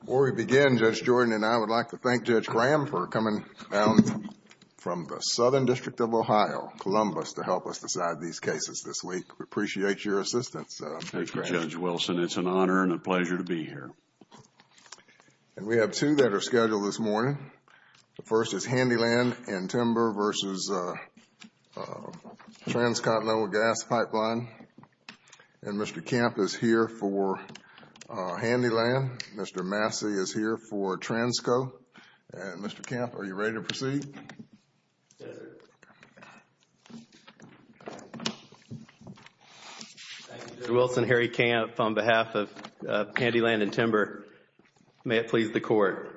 Before we begin, Judge Jordan and I would like to thank Judge Graham for coming down from the Southern District of Ohio, Columbus, to help us decide these cases this week. We appreciate your assistance, Judge Graham. Thank you, Judge Wilson. It's an honor and a pleasure to be here. We have two that are scheduled this morning. The first is Handy Land & Timber v. Transcontinental Gas Pipe Line. And Mr. Kemp is here for Handy Land. Mr. Massey is here for Transco. Mr. Kemp, are you ready to proceed? Yes, sir. Thank you, Judge. Mr. Wilson, Harry Kemp on behalf of Handy Land & Timber. May it please the Court.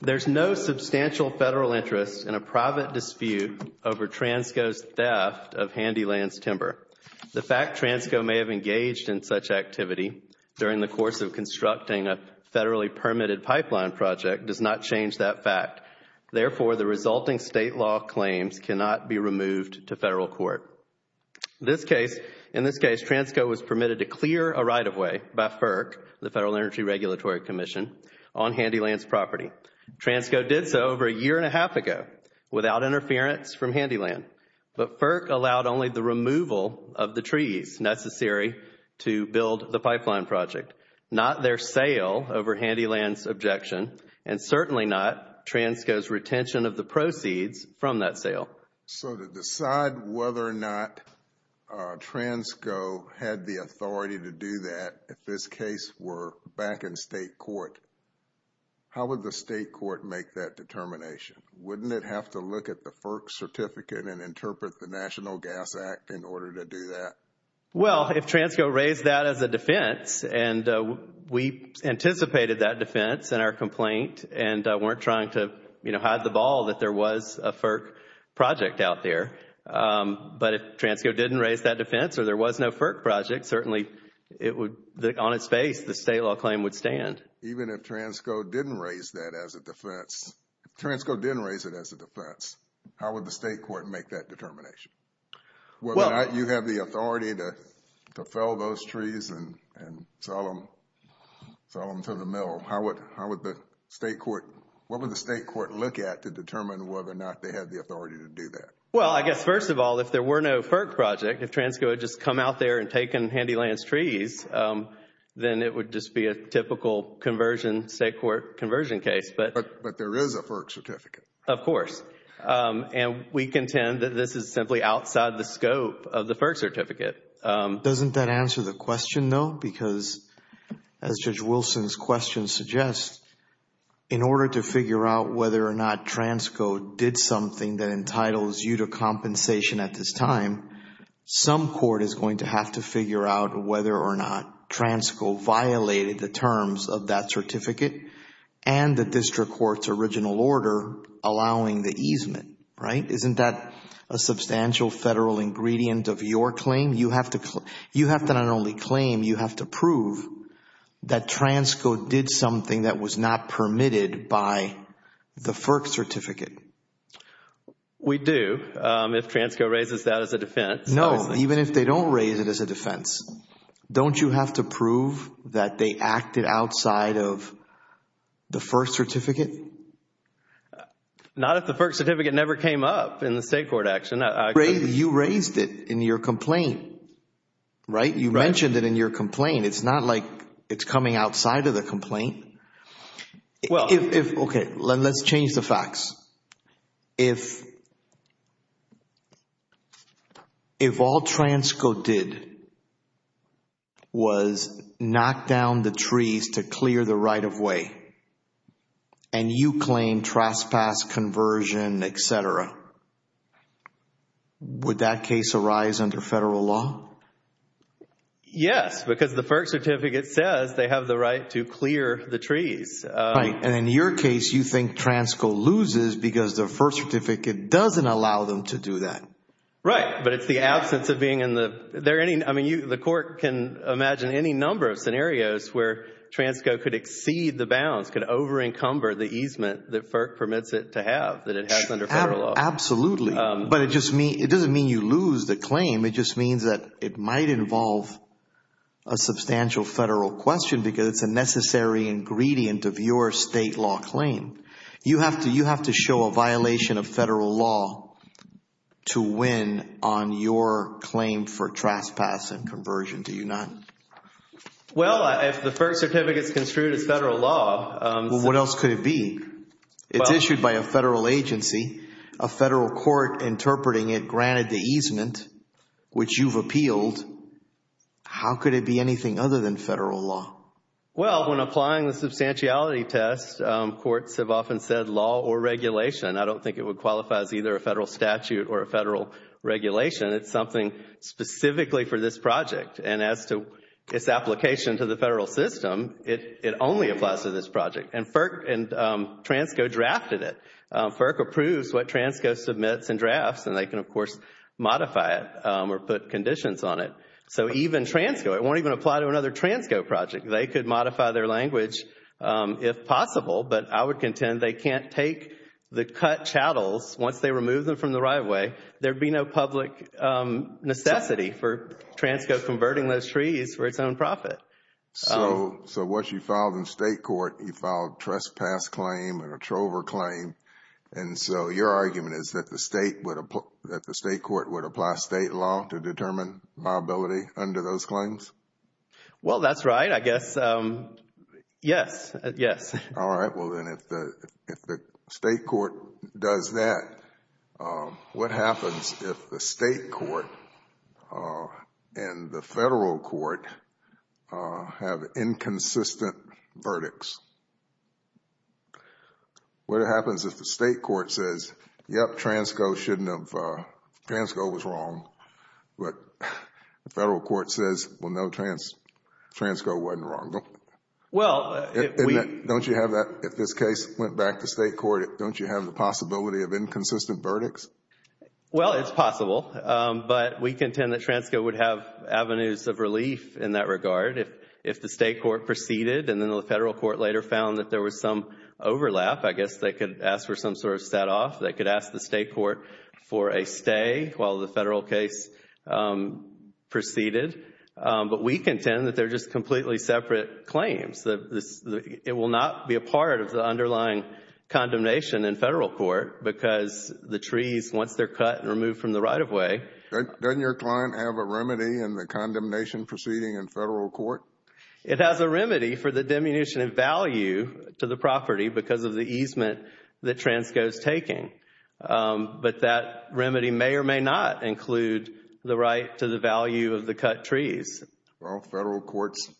There's no substantial federal interest in a private dispute over Transco's theft of Handy Land's timber. The fact Transco may have engaged in such activity during the course of constructing a federally permitted pipeline project does not change that fact. Therefore, the resulting state law claims cannot be removed to federal court. This case, in this case, Transco was permitted to clear a right-of-way by FERC, the Federal Energy Regulatory Commission, on Handy Land's property. Transco did so over a year and a half ago without interference from Handy Land. But FERC allowed only the removal of the trees necessary to build the pipeline project, not their sale over Handy Land's objection, and certainly not Transco's retention of the proceeds from that sale. So, to decide whether or not Transco had the authority to do that, if this case were back in state court, how would the state court make that determination? Wouldn't it have to look at the FERC certificate and interpret the National Gas Act in order to do that? Well, if Transco raised that as a defense, and we anticipated that defense in our complaint and weren't trying to, you know, hide the ball that there was a FERC project out there. But if Transco didn't raise that defense or there was no FERC project, certainly it would, on its face, the state law claim would stand. Even if Transco didn't raise that as a defense, if Transco didn't raise it as a defense, how would the state court make that determination? Whether or not you have the authority to fell those trees and sell them to the mill, how would the state court, what would the state court look at to determine whether or not they have the authority to do that? Well, I guess first of all, if there were no FERC project, if Transco had just come out there and taken Handyland's trees, then it would just be a typical state court conversion case. But there is a FERC certificate. Of course. And we contend that this is simply outside the scope of the FERC certificate. Doesn't that answer the question though? Because as Judge Wilson's question suggests, in order to figure out whether or not Transco did something that entitles you to compensation at this time, some court is going to have to figure out whether or not Transco violated the terms of that certificate and the district court's original order allowing the easement, right? Isn't that a substantial federal ingredient of your claim? You have to not only claim, you have to prove that Transco did something that was not permitted by the FERC certificate. We do if Transco raises that as a defense. No, even if they don't raise it as a defense, don't you have to prove that they acted outside of the FERC certificate? Not if the FERC certificate never came up in the state court action. You raised it in your complaint, right? You mentioned it in your complaint. It's not like it's coming outside of the complaint. Okay, let's change the facts. If all Transco did was knock down the trees to clear the right-of-way and you claim trespass, conversion, et cetera, would that case arise under federal law? Yes, because the FERC certificate says they have the right to clear the trees. Right, and in your case, you think Transco loses because the FERC certificate doesn't allow them to do that. Right, but it's the absence of being in the, I mean, the court can imagine any number of scenarios where Transco could exceed the bounds, could over encumber the easement that FERC permits it to have, that it has under federal law. Absolutely. But it doesn't mean you lose the claim. It just means that it might involve a substantial federal question because it's a necessary ingredient of your state law claim. You have to show a violation of federal law to win on your claim for trespass and conversion, do you not? Well, if the FERC certificate is construed as federal law. What else could it be? It's issued by a federal agency, a federal court interpreting it granted the easement which you've appealed. How could it be anything other than federal law? Well, when applying the substantiality test, courts have often said law or regulation. I don't think it would qualify as either a federal statute or a federal regulation. It's something specifically for this project and as to its application to the federal system, it only applies to this project. And FERC and TRANSCO drafted it. FERC approves what TRANSCO submits and drafts and they can, of course, modify it or put conditions on it. So even TRANSCO, it won't even apply to another TRANSCO project. They could modify their language if possible, but I would contend they can't take the cut chattels once they remove them from the right way. There'd be no public necessity for TRANSCO converting those trees for its own profit. So once you filed in state court, you filed trespass claim and a trover claim. And so your argument is that the state would, that the state court would apply state law to determine viability under those claims? Well, that's right, I guess. Yes. Yes. All right. Well, then if the state court does that, what happens if the state court and the federal court have inconsistent verdicts? What happens if the state court says, yep, TRANSCO shouldn't have, TRANSCO was wrong, but the federal court says, well, no, TRANSCO wasn't wrong. Well, if we... Don't you have that, if this case went back to state court, don't you have the possibility of inconsistent verdicts? Well, it's possible. But we contend that TRANSCO would have avenues of relief in that regard if the state court proceeded and then the federal court later found that there was some overlap. I guess they could ask for some sort of set off. They could ask the state court for a stay while the federal case proceeded. But we contend that they're just completely separate claims. It will not be a part of the underlying condemnation in federal court because the trees, once they're cut and removed from the right-of-way... Doesn't your client have a remedy in the condemnation proceeding in federal court? It has a remedy for the diminution of value to the property because of the easement that TRANSCO is taking. But that remedy may or may not include the right to the value of the cut trees. Well, federal courts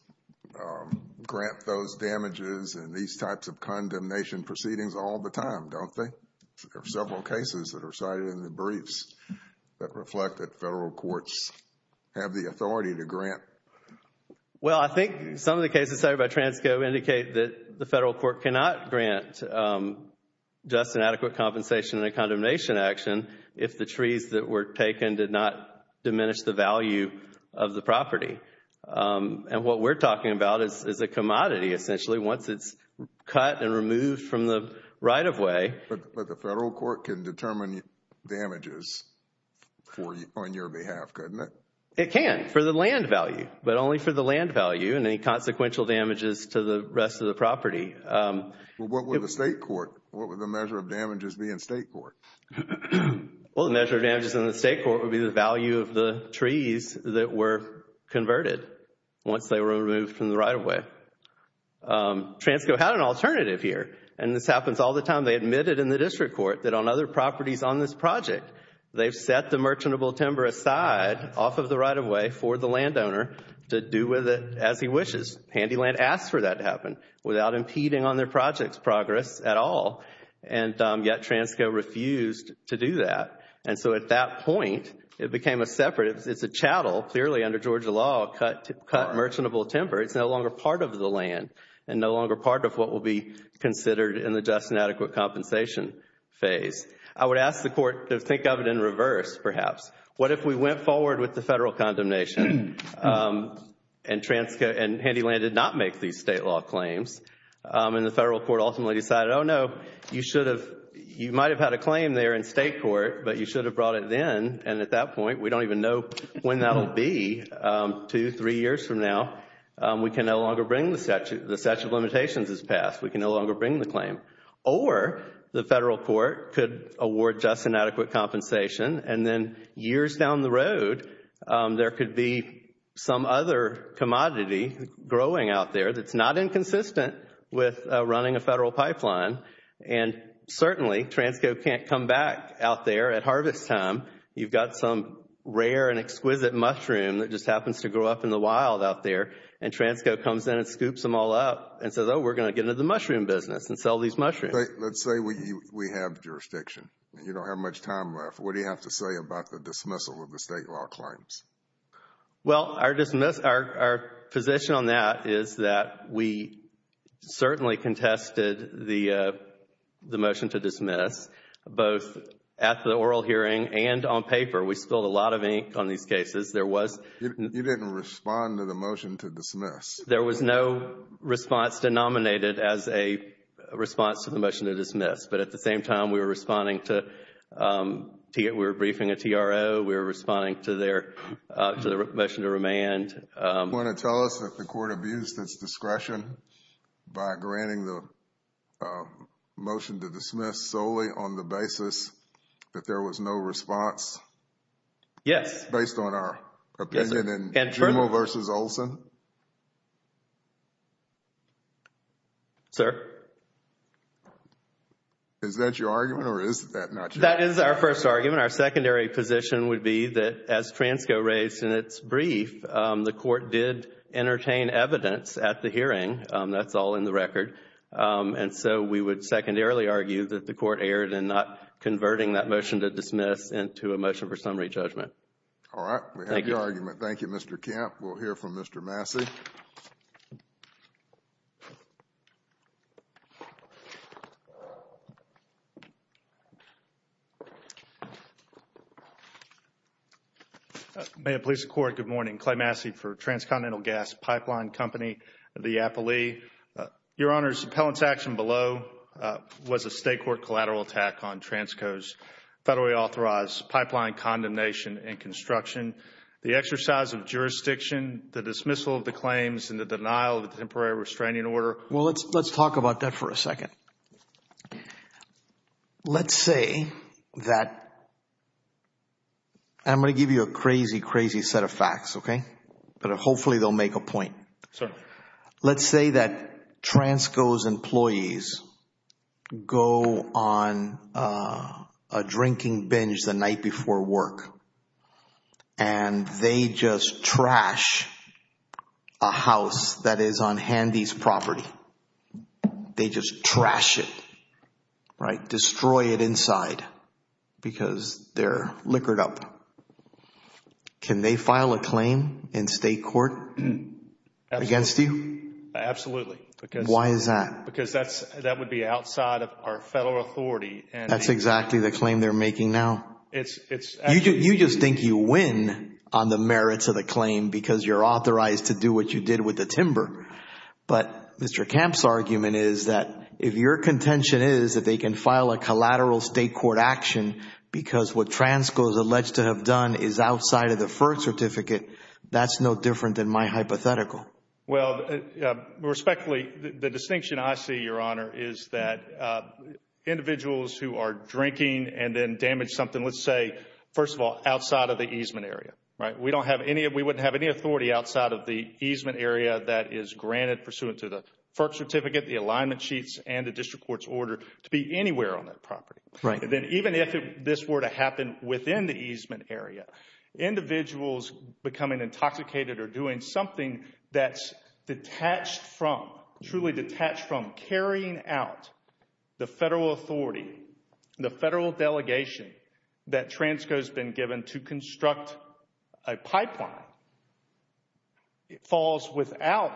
grant those damages and these types of condemnation proceedings all the time, don't they? There are several cases that are cited in the briefs that reflect that federal courts have the authority to grant. Well, I think some of the cases cited by TRANSCO indicate that the federal court cannot grant just an adequate compensation in a condemnation action if the trees that were taken did not diminish the value of the property. And what we're talking about is a commodity, essentially. Once it's cut and removed from the right-of-way... But the federal court can determine damages on your behalf, couldn't it? It can, for the land value, but only for the land value and any consequential damages to the rest of the property. What would the state court, what would the measure of damages be in state court? Well, the measure of damages in the state court would be the value of the trees that were converted once they were removed from the right-of-way. TRANSCO had an alternative here and this happens all the time. They admitted in the district court that on other properties on this project, they've set the merchantable timber aside off of the right-of-way for the landowner to do with it as he wishes. Handyland asks for that to happen without impeding on their project's progress at all. And yet TRANSCO refused to do that. And so at that point, it became a separate, it's a chattel, clearly under Georgia law, cut merchantable timber. It's no longer part of the land and no longer part of what will be considered in the just and adequate compensation phase. I would ask the court to think of it in reverse, perhaps. What if we went forward with the federal condemnation and TRANSCO and Handyland did not make these state law claims and the federal court ultimately decided, oh no, you should have, you might have had a claim there in state court, but you should have brought it then. And at that point, we don't even know when that will be, two, three years from now. We can no longer bring the statute, the statute of limitations is passed. We can no longer bring the claim. Or the federal court could award just and adequate compensation and then years down the road, there could be some other commodity growing out there that's not inconsistent with running a federal pipeline. And certainly TRANSCO can't come back out there at harvest time. You've got some rare and exquisite mushroom that just happens to grow up in the wild out there and TRANSCO comes in and scoops them all up and says, oh, we're going to get into the mushroom business and sell these mushrooms. Let's say we have jurisdiction and you don't have much time left. What do you have to say about the dismissal of the state law claims? Well, our dismissal, our position on that is that we certainly contested the motion to dismiss both at the oral hearing and on paper. We spilled a lot of ink on these cases. There was... You didn't respond to the motion to dismiss. There was no response denominated as a response to the motion to dismiss. But at the same time, we were responding to... We were briefing a TRO. We were responding to their... to the motion to remand. Do you want to tell us that the court abused its discretion by granting the motion to dismiss solely on the basis that there was no response? Yes. Based on our opinion in Jumeau versus Olson? Sir? Is that your argument or is that not your argument? That is our first argument. Our secondary position would be that as Transco raised in its brief, the court did entertain evidence at the hearing. That's all in the record. And so we would secondarily argue that the court erred in not converting that motion to dismiss into a motion for summary judgment. All right. We have your argument. Thank you, Mr. Kemp. We'll hear from Mr. Massey. Thank you. May it please the court. Good morning. Clay Massey for Transcontinental Gas Pipeline Company. The appellee. Your Honor's appellant's action below was a state court collateral attack on Transco's federally authorized pipeline condemnation and construction. The exercise of jurisdiction, the dismissal of the claims, and the denial of the temporary restraining order. Well, let's talk about that for a second. Let's say that I'm going to give you a crazy, crazy set of facts, okay? But hopefully they'll make a point. Sir? Let's say that Transco's employees go on a drinking binge the night before work. And they just trash a house that is on Handy's property. They just trash it, right? Destroy it inside because they're liquored up. Can they file a claim in state court against you? Absolutely. Why is that? Because that would be outside of our federal authority. That's exactly the claim they're making now. You just think you win on the merits of the claim because you're authorized to do what you did with the timber. But Mr. Kemp's argument is that if your contention is that they can file a collateral state court action because what Transco's alleged to have done is outside of the FERC certificate, that's no different than my hypothetical. Well, respectfully, the distinction I see, Your Honor, is that individuals who are drinking and then damage something, let's say, first of all, outside of the easement area, right? We don't have any, we wouldn't have any authority outside of the easement area that is granted pursuant to the FERC certificate, the alignment sheets, and the district court's order to be anywhere on that property. Then even if this were to happen within the easement area, individuals becoming intoxicated or doing something that's detached from, truly detached from, carrying out the federal authority, the federal delegation that Transco's been given to construct a pipeline, it falls without,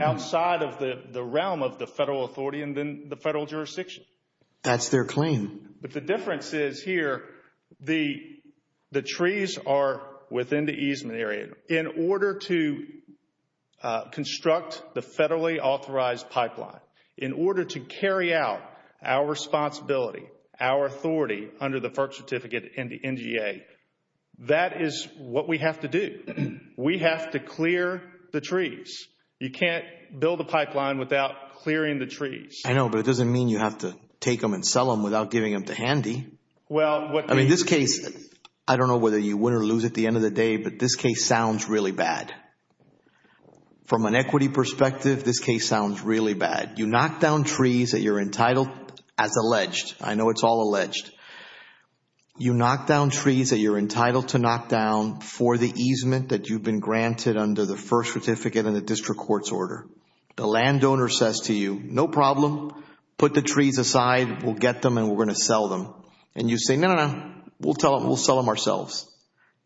outside of the realm of the federal authority and then the federal jurisdiction. That's their claim. But the difference is here, the trees are within the easement area. In order to construct the federally authorized pipeline, in order to carry out our responsibility, our authority under the FERC certificate and the NGA, that is what we have to do. We have to clear the trees. You can't build a pipeline without clearing the trees. I know, but it doesn't mean you have to take them and sell them without giving them to Handy. I mean, this case, I don't know whether you win or lose at the end of the day, but this case sounds really bad. From an equity perspective, this case sounds really bad. You knock down trees that you're entitled, as alleged, I know it's all alleged. You knock down trees that you're entitled to knock down for the easement that you've been granted under the FERC certificate and the district court's order. The landowner says to you, no problem, put the trees aside, we'll get them and we're going to sell them. And you say, no, no, no, we'll sell them ourselves.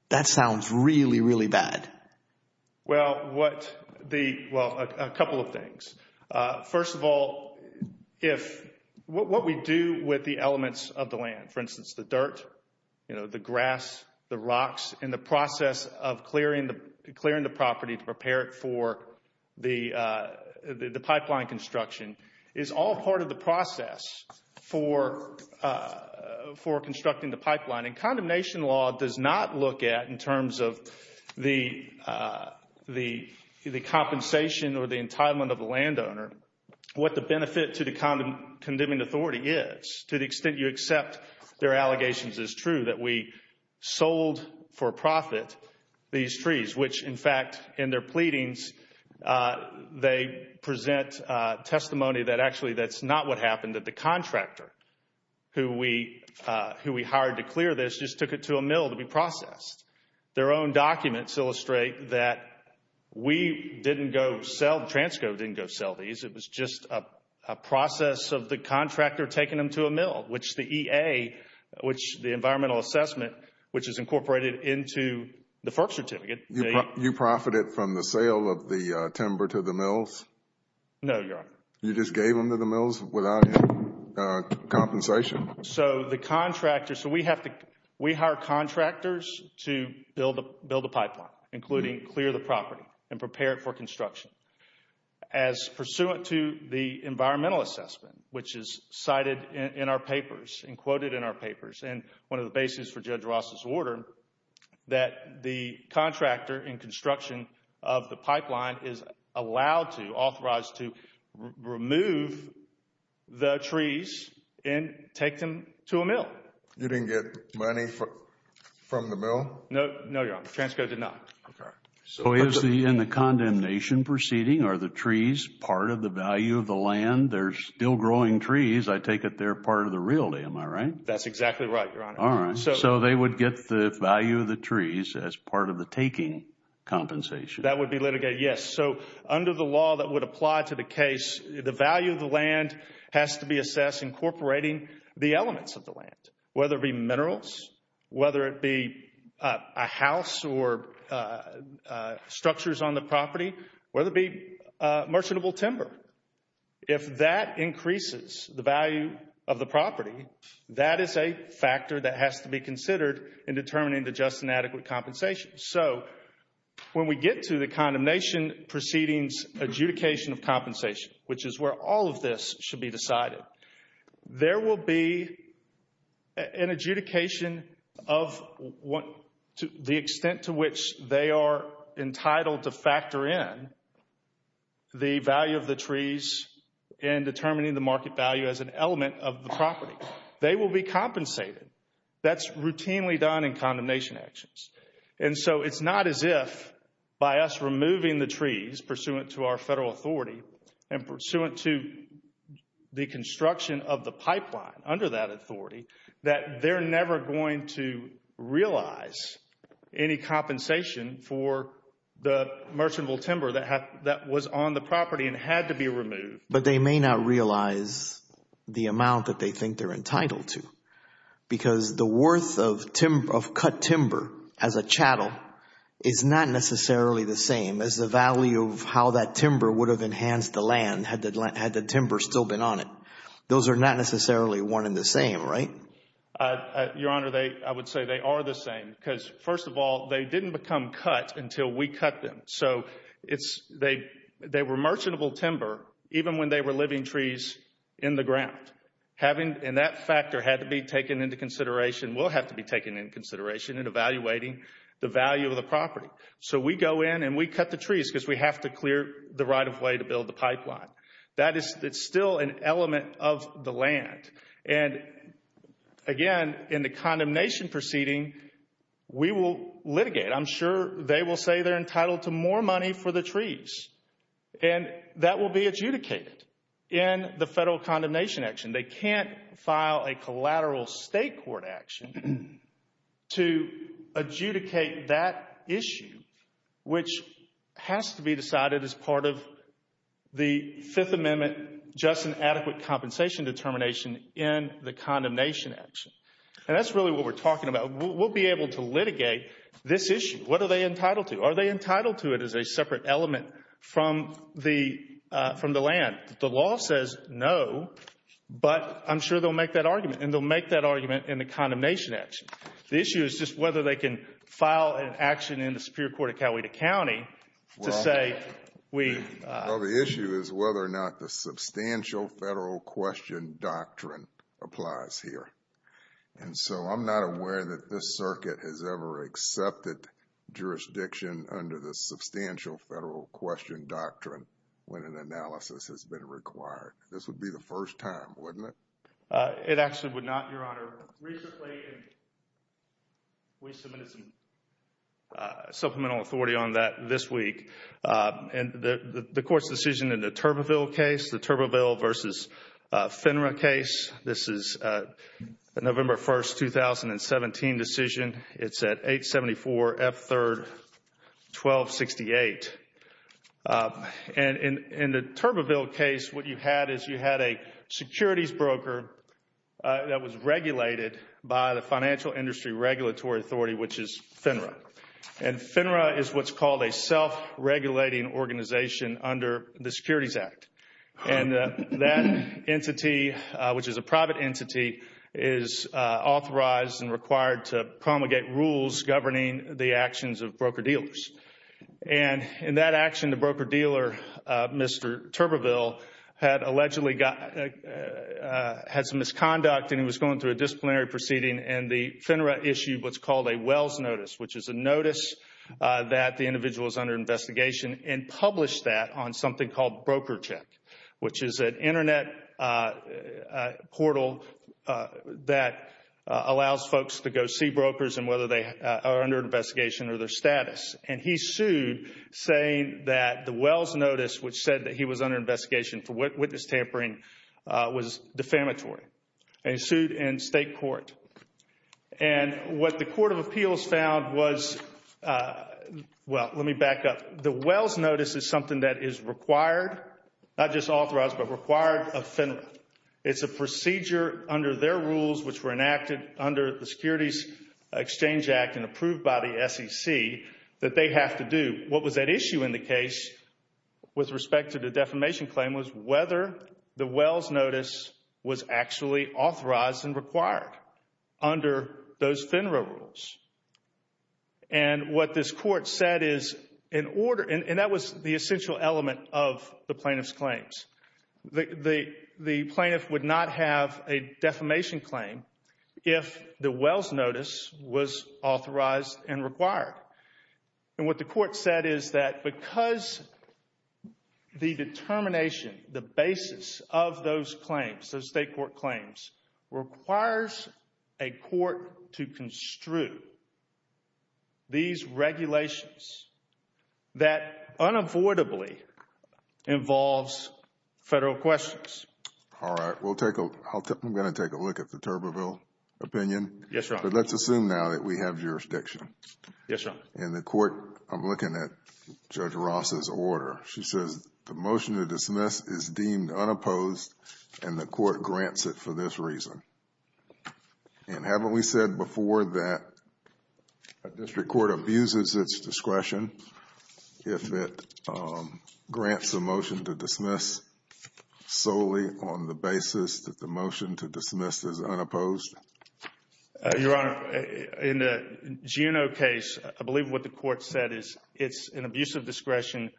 That sounds really, really bad. Well, a couple of things. First of all, what we do with the elements of the land, for instance, the dirt, the grass, the rocks, and the process of clearing the property to prepare it for the pipeline construction is all part of the process for constructing the pipeline. And condemnation law does not look at, in terms of the compensation or the entitlement of the landowner, what the benefit to the condemning authority is. To the extent you accept their allegations is true, that we sold for profit these trees, which, in fact, in their pleadings, they present testimony that actually that's not what happened, that the contractor who we hired to clear this just took it to a mill to be processed. Their own documents illustrate that we didn't go sell, Transco didn't go sell these. It was just a process of the contractor taking them to a mill, which the EA, which the environmental assessment, which is incorporated into the FERC certificate. You profited from the sale of the timber to the mills? No, Your Honor. You just gave them to the mills without any compensation? So the contractor, so we have to, we hire contractors to build a pipeline, including clear the property and prepare it for construction. As pursuant to the environmental assessment, which is cited in our papers, and quoted in our papers, and one of the basis for Judge Ross's order, that the contractor in construction of the pipeline is allowed to, authorized to, remove the trees and take them to a mill. You didn't get money from the mill? No, no, Your Honor. Transco did not. Okay. So in the condemnation proceeding, are the trees part of the value of the land? They're still growing trees. I take it they're part of the realty, am I right? That's exactly right, Your Honor. All right. So they would get the value of the trees as part of the taking compensation? That would be litigated, yes. So under the law that would apply to the case, the value of the land has to be assessed incorporating the elements of the land, whether it be minerals, whether it be a house or structures on the property, whether it be merchantable timber. If that increases the value of the property, that is a factor that has to be considered in determining the just and adequate compensation. So when we get to the condemnation proceedings adjudication of compensation, which is where all of this should be decided, there will be an adjudication of the extent to which they are entitled to factor in the value of the trees in determining the market value as an element of the property. They will be compensated. That's routinely done in condemnation actions. And so it's not as if by us removing the trees pursuant to our federal authority and pursuant to the construction of the pipeline under that authority, that they're never going to realize any compensation for the merchantable timber that was on the property and had to be removed. But they may not realize the amount that they think they're entitled to because the worth of cut timber as a chattel is not necessarily the same as the value of how that timber would have enhanced the land had the timber still been on it. Those are not necessarily one and the same, right? Your Honor, I would say they are the same because, first of all, they didn't become cut until we cut them. So they were merchantable timber even when they were living trees in the ground. And that factor had to be taken into consideration, will have to be taken into consideration in evaluating the value of the property. So we go in and we cut the trees because we have to clear the right of way to build the pipeline. That is still an element of the land. And, again, in the condemnation proceeding, we will litigate. I'm sure they will say they're entitled to more money for the trees. And that will be adjudicated in the federal condemnation action. They can't file a collateral state court action to adjudicate that issue, which has to be in the condemnation action. And that's really what we're talking about. We'll be able to litigate this issue. What are they entitled to? Are they entitled to it as a separate element from the land? The law says no, but I'm sure they'll make that argument. And they'll make that argument in the condemnation action. The issue is just whether they can file an action in the Superior Court of Coweta County to say we... applies here. And so I'm not aware that this circuit has ever accepted jurisdiction under the substantial federal question doctrine when an analysis has been required. This would be the first time, wouldn't it? It actually would not, Your Honor. Recently, we submitted some supplemental authority on that this week. And the Court's decision in the Turbeville case, the Turbeville versus FINRA case, this is a November 1st, 2017 decision. It's at 874 F3rd 1268. And in the Turbeville case, what you had is you had a securities broker that was regulated by the Financial Industry Regulatory Authority, which is FINRA. And FINRA is what's called a self-regulating organization under the Securities Act. And that entity, which is a private entity, is authorized and required to promulgate rules governing the actions of broker-dealers. And in that action, the broker-dealer, Mr. Turbeville, had allegedly got... had some misconduct and he was going through a disciplinary proceeding. And the FINRA issued what's called a Wells Notice, which is a notice that the individual is under investigation and published that on something called BrokerCheck, which is an internet portal that allows folks to go see brokers and whether they are under investigation or their status. And he sued, saying that the Wells Notice, which said that he was under investigation for witness tampering, was defamatory. And he sued in state court. And what the Court of Appeals found was... well, let me back up. The Wells Notice is something that is required, not just authorized, but required of FINRA. It's a procedure under their rules, which were enacted under the Securities Exchange Act and approved by the SEC, that they have to do. What was at issue in the case with respect to the defamation claim was whether the Wells Notice was actually authorized and required under those FINRA rules. And what this court said is, in order... and that was the essential element of the plaintiff's claims. The plaintiff would not have a defamation claim if the Wells Notice was authorized and required. And what the court said is that because the determination, the basis of those claims, those state court claims, requires a court to construe these regulations that unavoidably involves federal questions. All right. We'll take a... I'm going to take a look at the Turbeville opinion. Yes, Your Honor. But let's assume now that we have jurisdiction. Yes, Your Honor. And the court... I'm looking at Judge Ross's order. She says the motion to dismiss is deemed unopposed and the court grants it for this reason. And haven't we said before that a district court abuses its discretion if it grants a motion to dismiss solely on the basis that the motion to dismiss is unopposed? Your Honor, in the Juneau case, I believe what the court said is it's an abusive discretion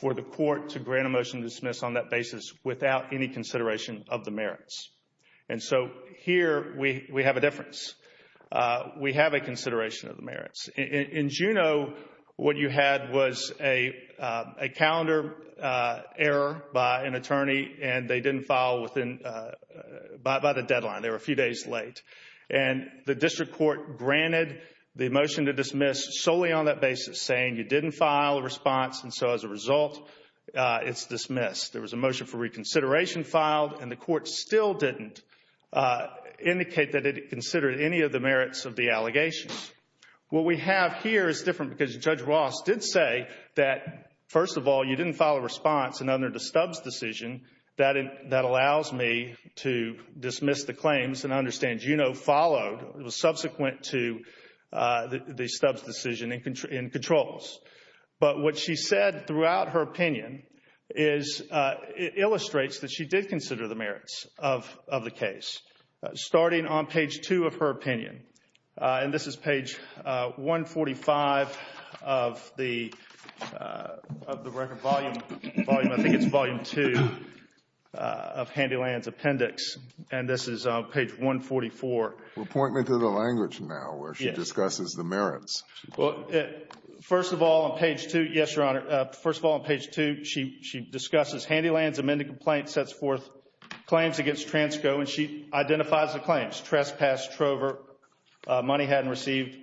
for the court to grant a motion to dismiss on that basis without any consideration of the merits. And so here we have a difference. We have a consideration of the merits. In Juneau, what you had was a calendar error by an attorney and they didn't file within... by the deadline. They were a few days late. And the district court granted the motion to dismiss solely on that basis saying you didn't file a response. And so as a result, it's dismissed. There was a motion for reconsideration filed and the court still didn't indicate that it considered any of the merits of the allegations. What we have here is different because Judge Ross did say that, first of all, you didn't file a response and under the Stubbs decision, that allows me to dismiss the claims. And I understand Juneau followed. It was subsequent to the Stubbs decision in controls. But what she said throughout her opinion is it illustrates that she did consider the merits of the case. Starting on page 2 of her opinion, and this is page 145 of the record volume, I think it's volume 2, of Handyland's appendix. And this is page 144. Well, point me to the language now where she discusses the merits. Well, first of all, on page 2, yes, Your Honor. First of all, on page 2, she discusses Handyland's amended complaint, sets forth claims against Transco, and she identifies the claims, trespass, trover, money hadn't received,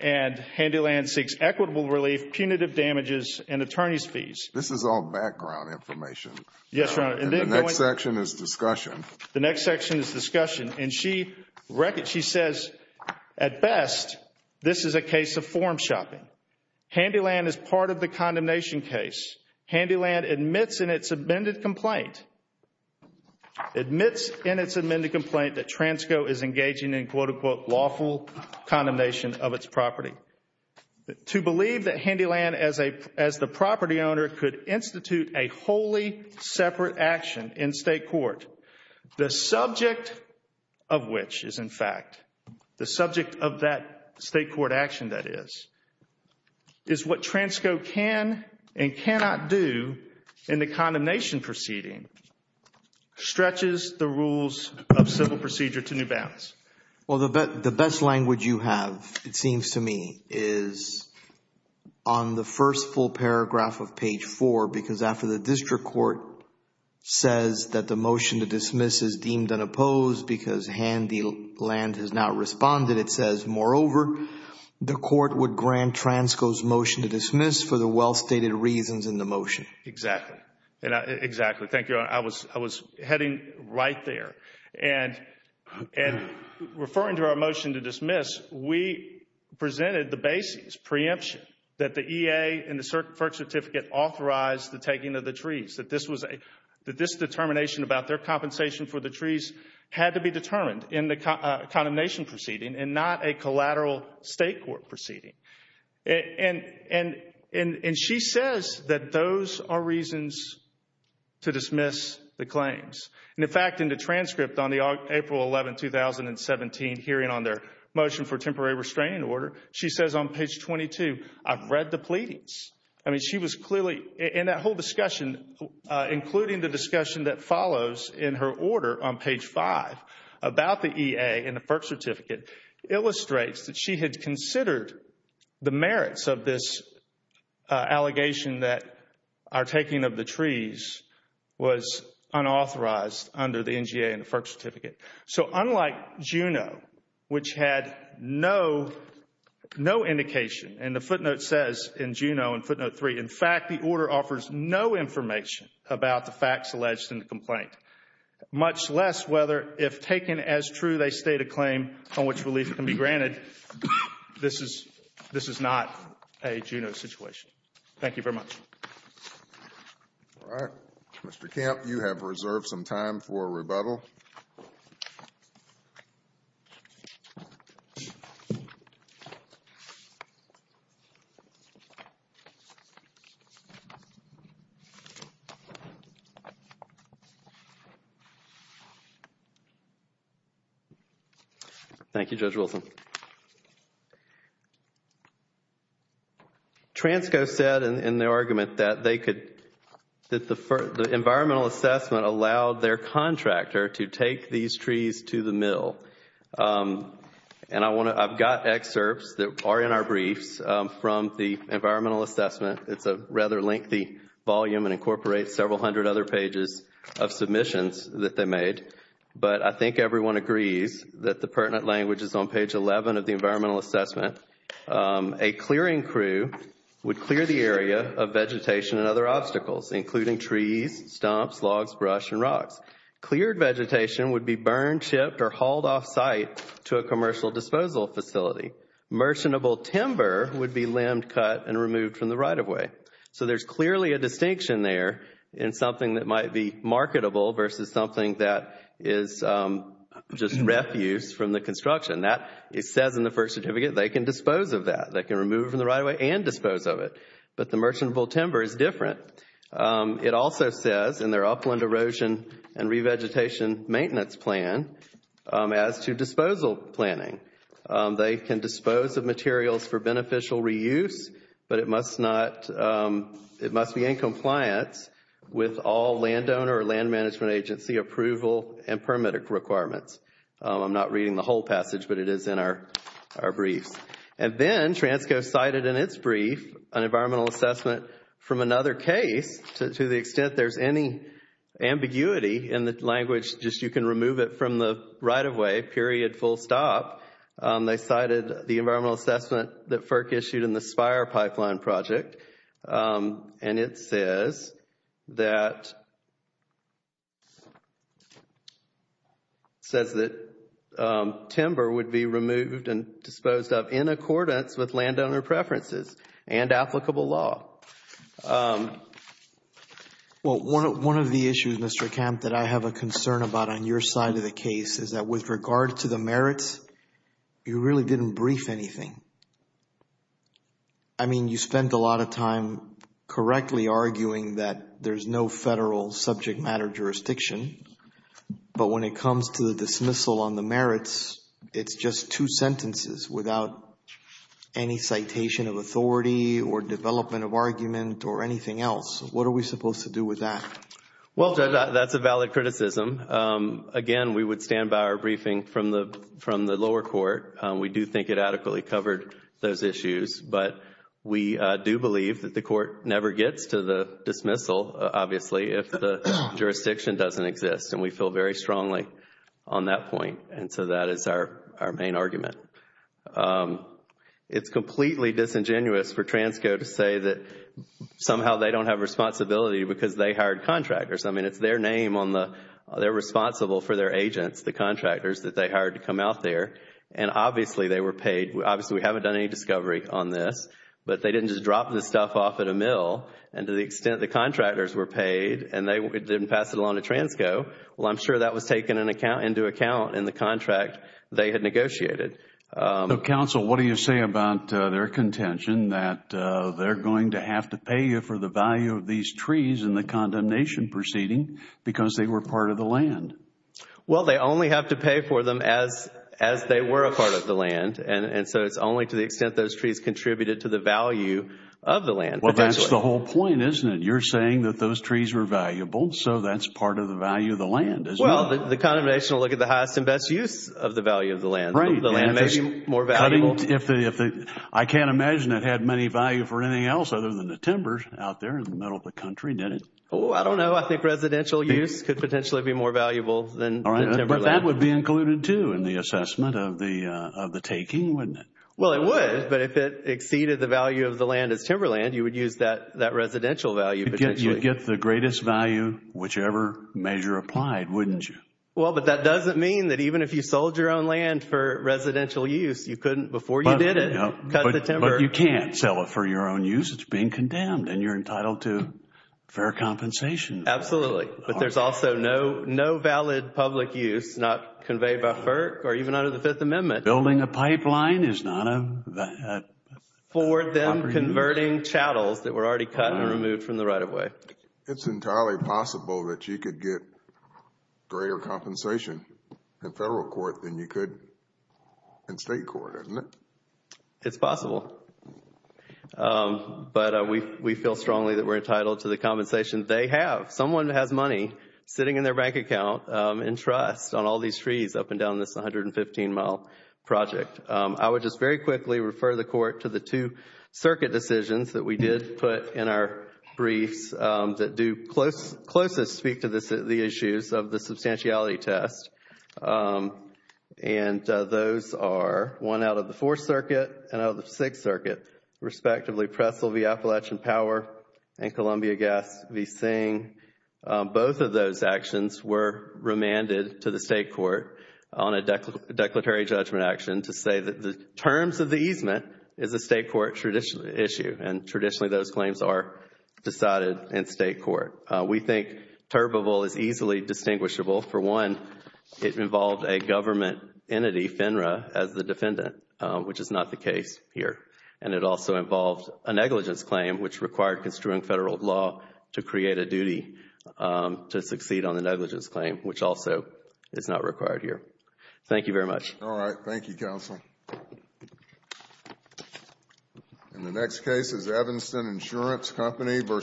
and Handyland seeks equitable relief, punitive damages, and attorney's fees. This is all background information. Yes, Your Honor. And the next section is discussion. The next section is discussion. And she says, at best, this is a case of form shopping. Handyland is part of the condemnation case. Handyland admits in its amended complaint, admits in its amended complaint that Transco is engaging in, quote, unquote, lawful condemnation of its property. To believe that Handyland, as the property owner, could institute a wholly separate action in state court, the subject of which is, in fact, the subject of that state court action, Handyland, that is, is what Transco can and cannot do in the condemnation proceeding, stretches the rules of civil procedure to new bounds. Well, the best language you have, it seems to me, is on the first full paragraph of page 4, because after the district court says that the motion to dismiss is deemed unopposed because Handyland has not responded, it says, moreover, the court would grant Transco's motion to dismiss for the well-stated reasons in the motion. Exactly. Exactly. Thank you, Your Honor. I was heading right there. And referring to our motion to dismiss, we presented the basis, preemption, that the EA and the FERC certificate authorized the taking of the trees, that this determination about their compensation for the trees had to be determined in the condemnation proceeding and not a collateral state court proceeding. And she says that those are reasons to dismiss the claims. And, in fact, in the transcript on the April 11, 2017 hearing on their motion for temporary restraining order, she says on page 22, I've read the pleadings. I mean, she was clearly, in that whole discussion, including the discussion that follows in her order on page 5 about the EA and the FERC certificate, illustrates that she had considered the merits of this allegation that our taking of the trees was unauthorized under the NGA and the FERC certificate. So unlike Juneau, which had no indication, and the footnote says in Juneau in footnote 3, in fact, the order offers no information about the facts alleged in the complaint, much less whether, if taken as true, they state a claim on which relief can be granted, this is not a Juneau situation. Thank you very much. All right. Mr. Kemp, you have reserved some time for rebuttal. Thank you, Judge Wilson. Transco said in their argument that they could, that the environmental assessment allowed their contractor to take these trees to the mill. And I want to, I've got excerpts that are in our briefs from the environmental assessment. It's a rather lengthy volume and incorporates several hundred other pages of submissions that they made. But I think everyone agrees that the pertinent language is on page 11 of the environmental assessment. A clearing crew would clear the area of vegetation and other obstacles, including trees, stumps, logs, brush, and rocks. Cleared vegetation would be burned, chipped, or hauled off site to a commercial disposal facility. Merchantable timber would be limbed, cut, and removed from the right-of-way. So there's clearly a distinction there in something that might be marketable versus something that is just refuse from the construction. That, it says in the first certificate, they can dispose of that. They can remove it from the right-of-way and dispose of it. But the merchantable timber is different. It also says in their upland erosion and revegetation maintenance plan as to disposal planning. They can dispose of materials for beneficial reuse, but it must not, it must be in compliance with all landowner or land management agency approval and permit requirements. I'm not reading the whole passage, but it is in our briefs. And then TRANSCO cited in its brief an environmental assessment from another case, to the extent there's any ambiguity in the language, just you can remove it from the right-of-way, period, full stop. They cited the environmental assessment that FERC issued in the Spire Pipeline Project. And it says that, says that timber would be removed and disposed of in accordance with landowner preferences and applicable law. Well, one of the issues, Mr. Camp, that I have a concern about on your side of the case is that with regard to the merits, you really didn't brief anything. I mean, you spend a lot of time correctly arguing that there's no federal subject matter jurisdiction, but when it comes to the dismissal on the merits, it's just two sentences without any citation of authority or development of argument or anything else. What are we supposed to do with that? Well, Judge, that's a valid criticism. Again, we would stand by our briefing from the lower court. We do think it adequately covered those issues, but we do believe that the court never gets to the dismissal, obviously, if the jurisdiction doesn't exist. And we feel very strongly on that point. And so that is our main argument. It's completely disingenuous for Transco to say that somehow they don't have responsibility because they hired contractors. I mean, it's their name on the, they're responsible for their agents, the contractors that they hired to come out there. And obviously, they were paid. Obviously, we haven't done any discovery on this, but they didn't just drop this stuff off at a mill. And to the extent the contractors were paid and they didn't pass it along to Transco, well, I'm sure that was taken into account in the contract they had negotiated. So, counsel, what do you say about their contention that they're going to have to pay you for the value of these trees in the condemnation proceeding because they were part of the land? Well, they only have to pay for them as they were a part of the land. And so it's only to the extent those trees contributed to the value of the land. Well, that's the whole point, isn't it? You're saying that those trees were valuable, so that's part of the value of the land, isn't it? Well, the condemnation will look at the highest and best use of the value of the land. Right. The land may be more valuable. If the, I can't imagine it had many value for anything else other than the timbers out there in the middle of the country, did it? Oh, I don't know. I think residential use could potentially be more valuable than timber land. But that would be included, too, in the assessment of the taking, wouldn't it? Well, it would. But if it exceeded the value of the land as timber land, you would use that residential value potentially. You'd get the greatest value, whichever measure applied, wouldn't you? Well, but that doesn't mean that even if you sold your own land for residential use, you couldn't, before you did it, cut the timber. But you can't sell it for your own use. It's being condemned and you're entitled to fair compensation. Absolutely. But there's also no valid public use not conveyed by FERC or even under the Fifth Amendment. Building a pipeline is not a proper use. For them converting chattels that were already cut and removed from the right of way. It's entirely possible that you could get greater compensation in federal court than you could in state court, isn't it? It's possible. But we feel strongly that we're entitled to the compensation they have. Someone has money sitting in their bank account and trust on all these trees up and down this 115 mile project. I would just very quickly refer the court to the two circuit decisions that we did put in our briefs that do closest speak to the issues of the substantiality test. And those are one out of the Fourth Circuit and out of the Sixth Circuit, respectively Prestle v. Appalachian Power and Columbia Gas v. Singh. Both of those actions were remanded to the state court on a declaratory judgment action to say that the terms of the easement is a state court issue. And traditionally those claims are decided in state court. We think Turbeville is easily distinguishable. For one, it involved a government entity, FINRA, as the defendant, which is not the case here. And it also involved a negligence claim, which required construing federal law to create a duty to succeed on the negligence claim, which also is not required here. Thank you very much. All right. Thank you, counsel. And the next case is Evanston Insurance Company v.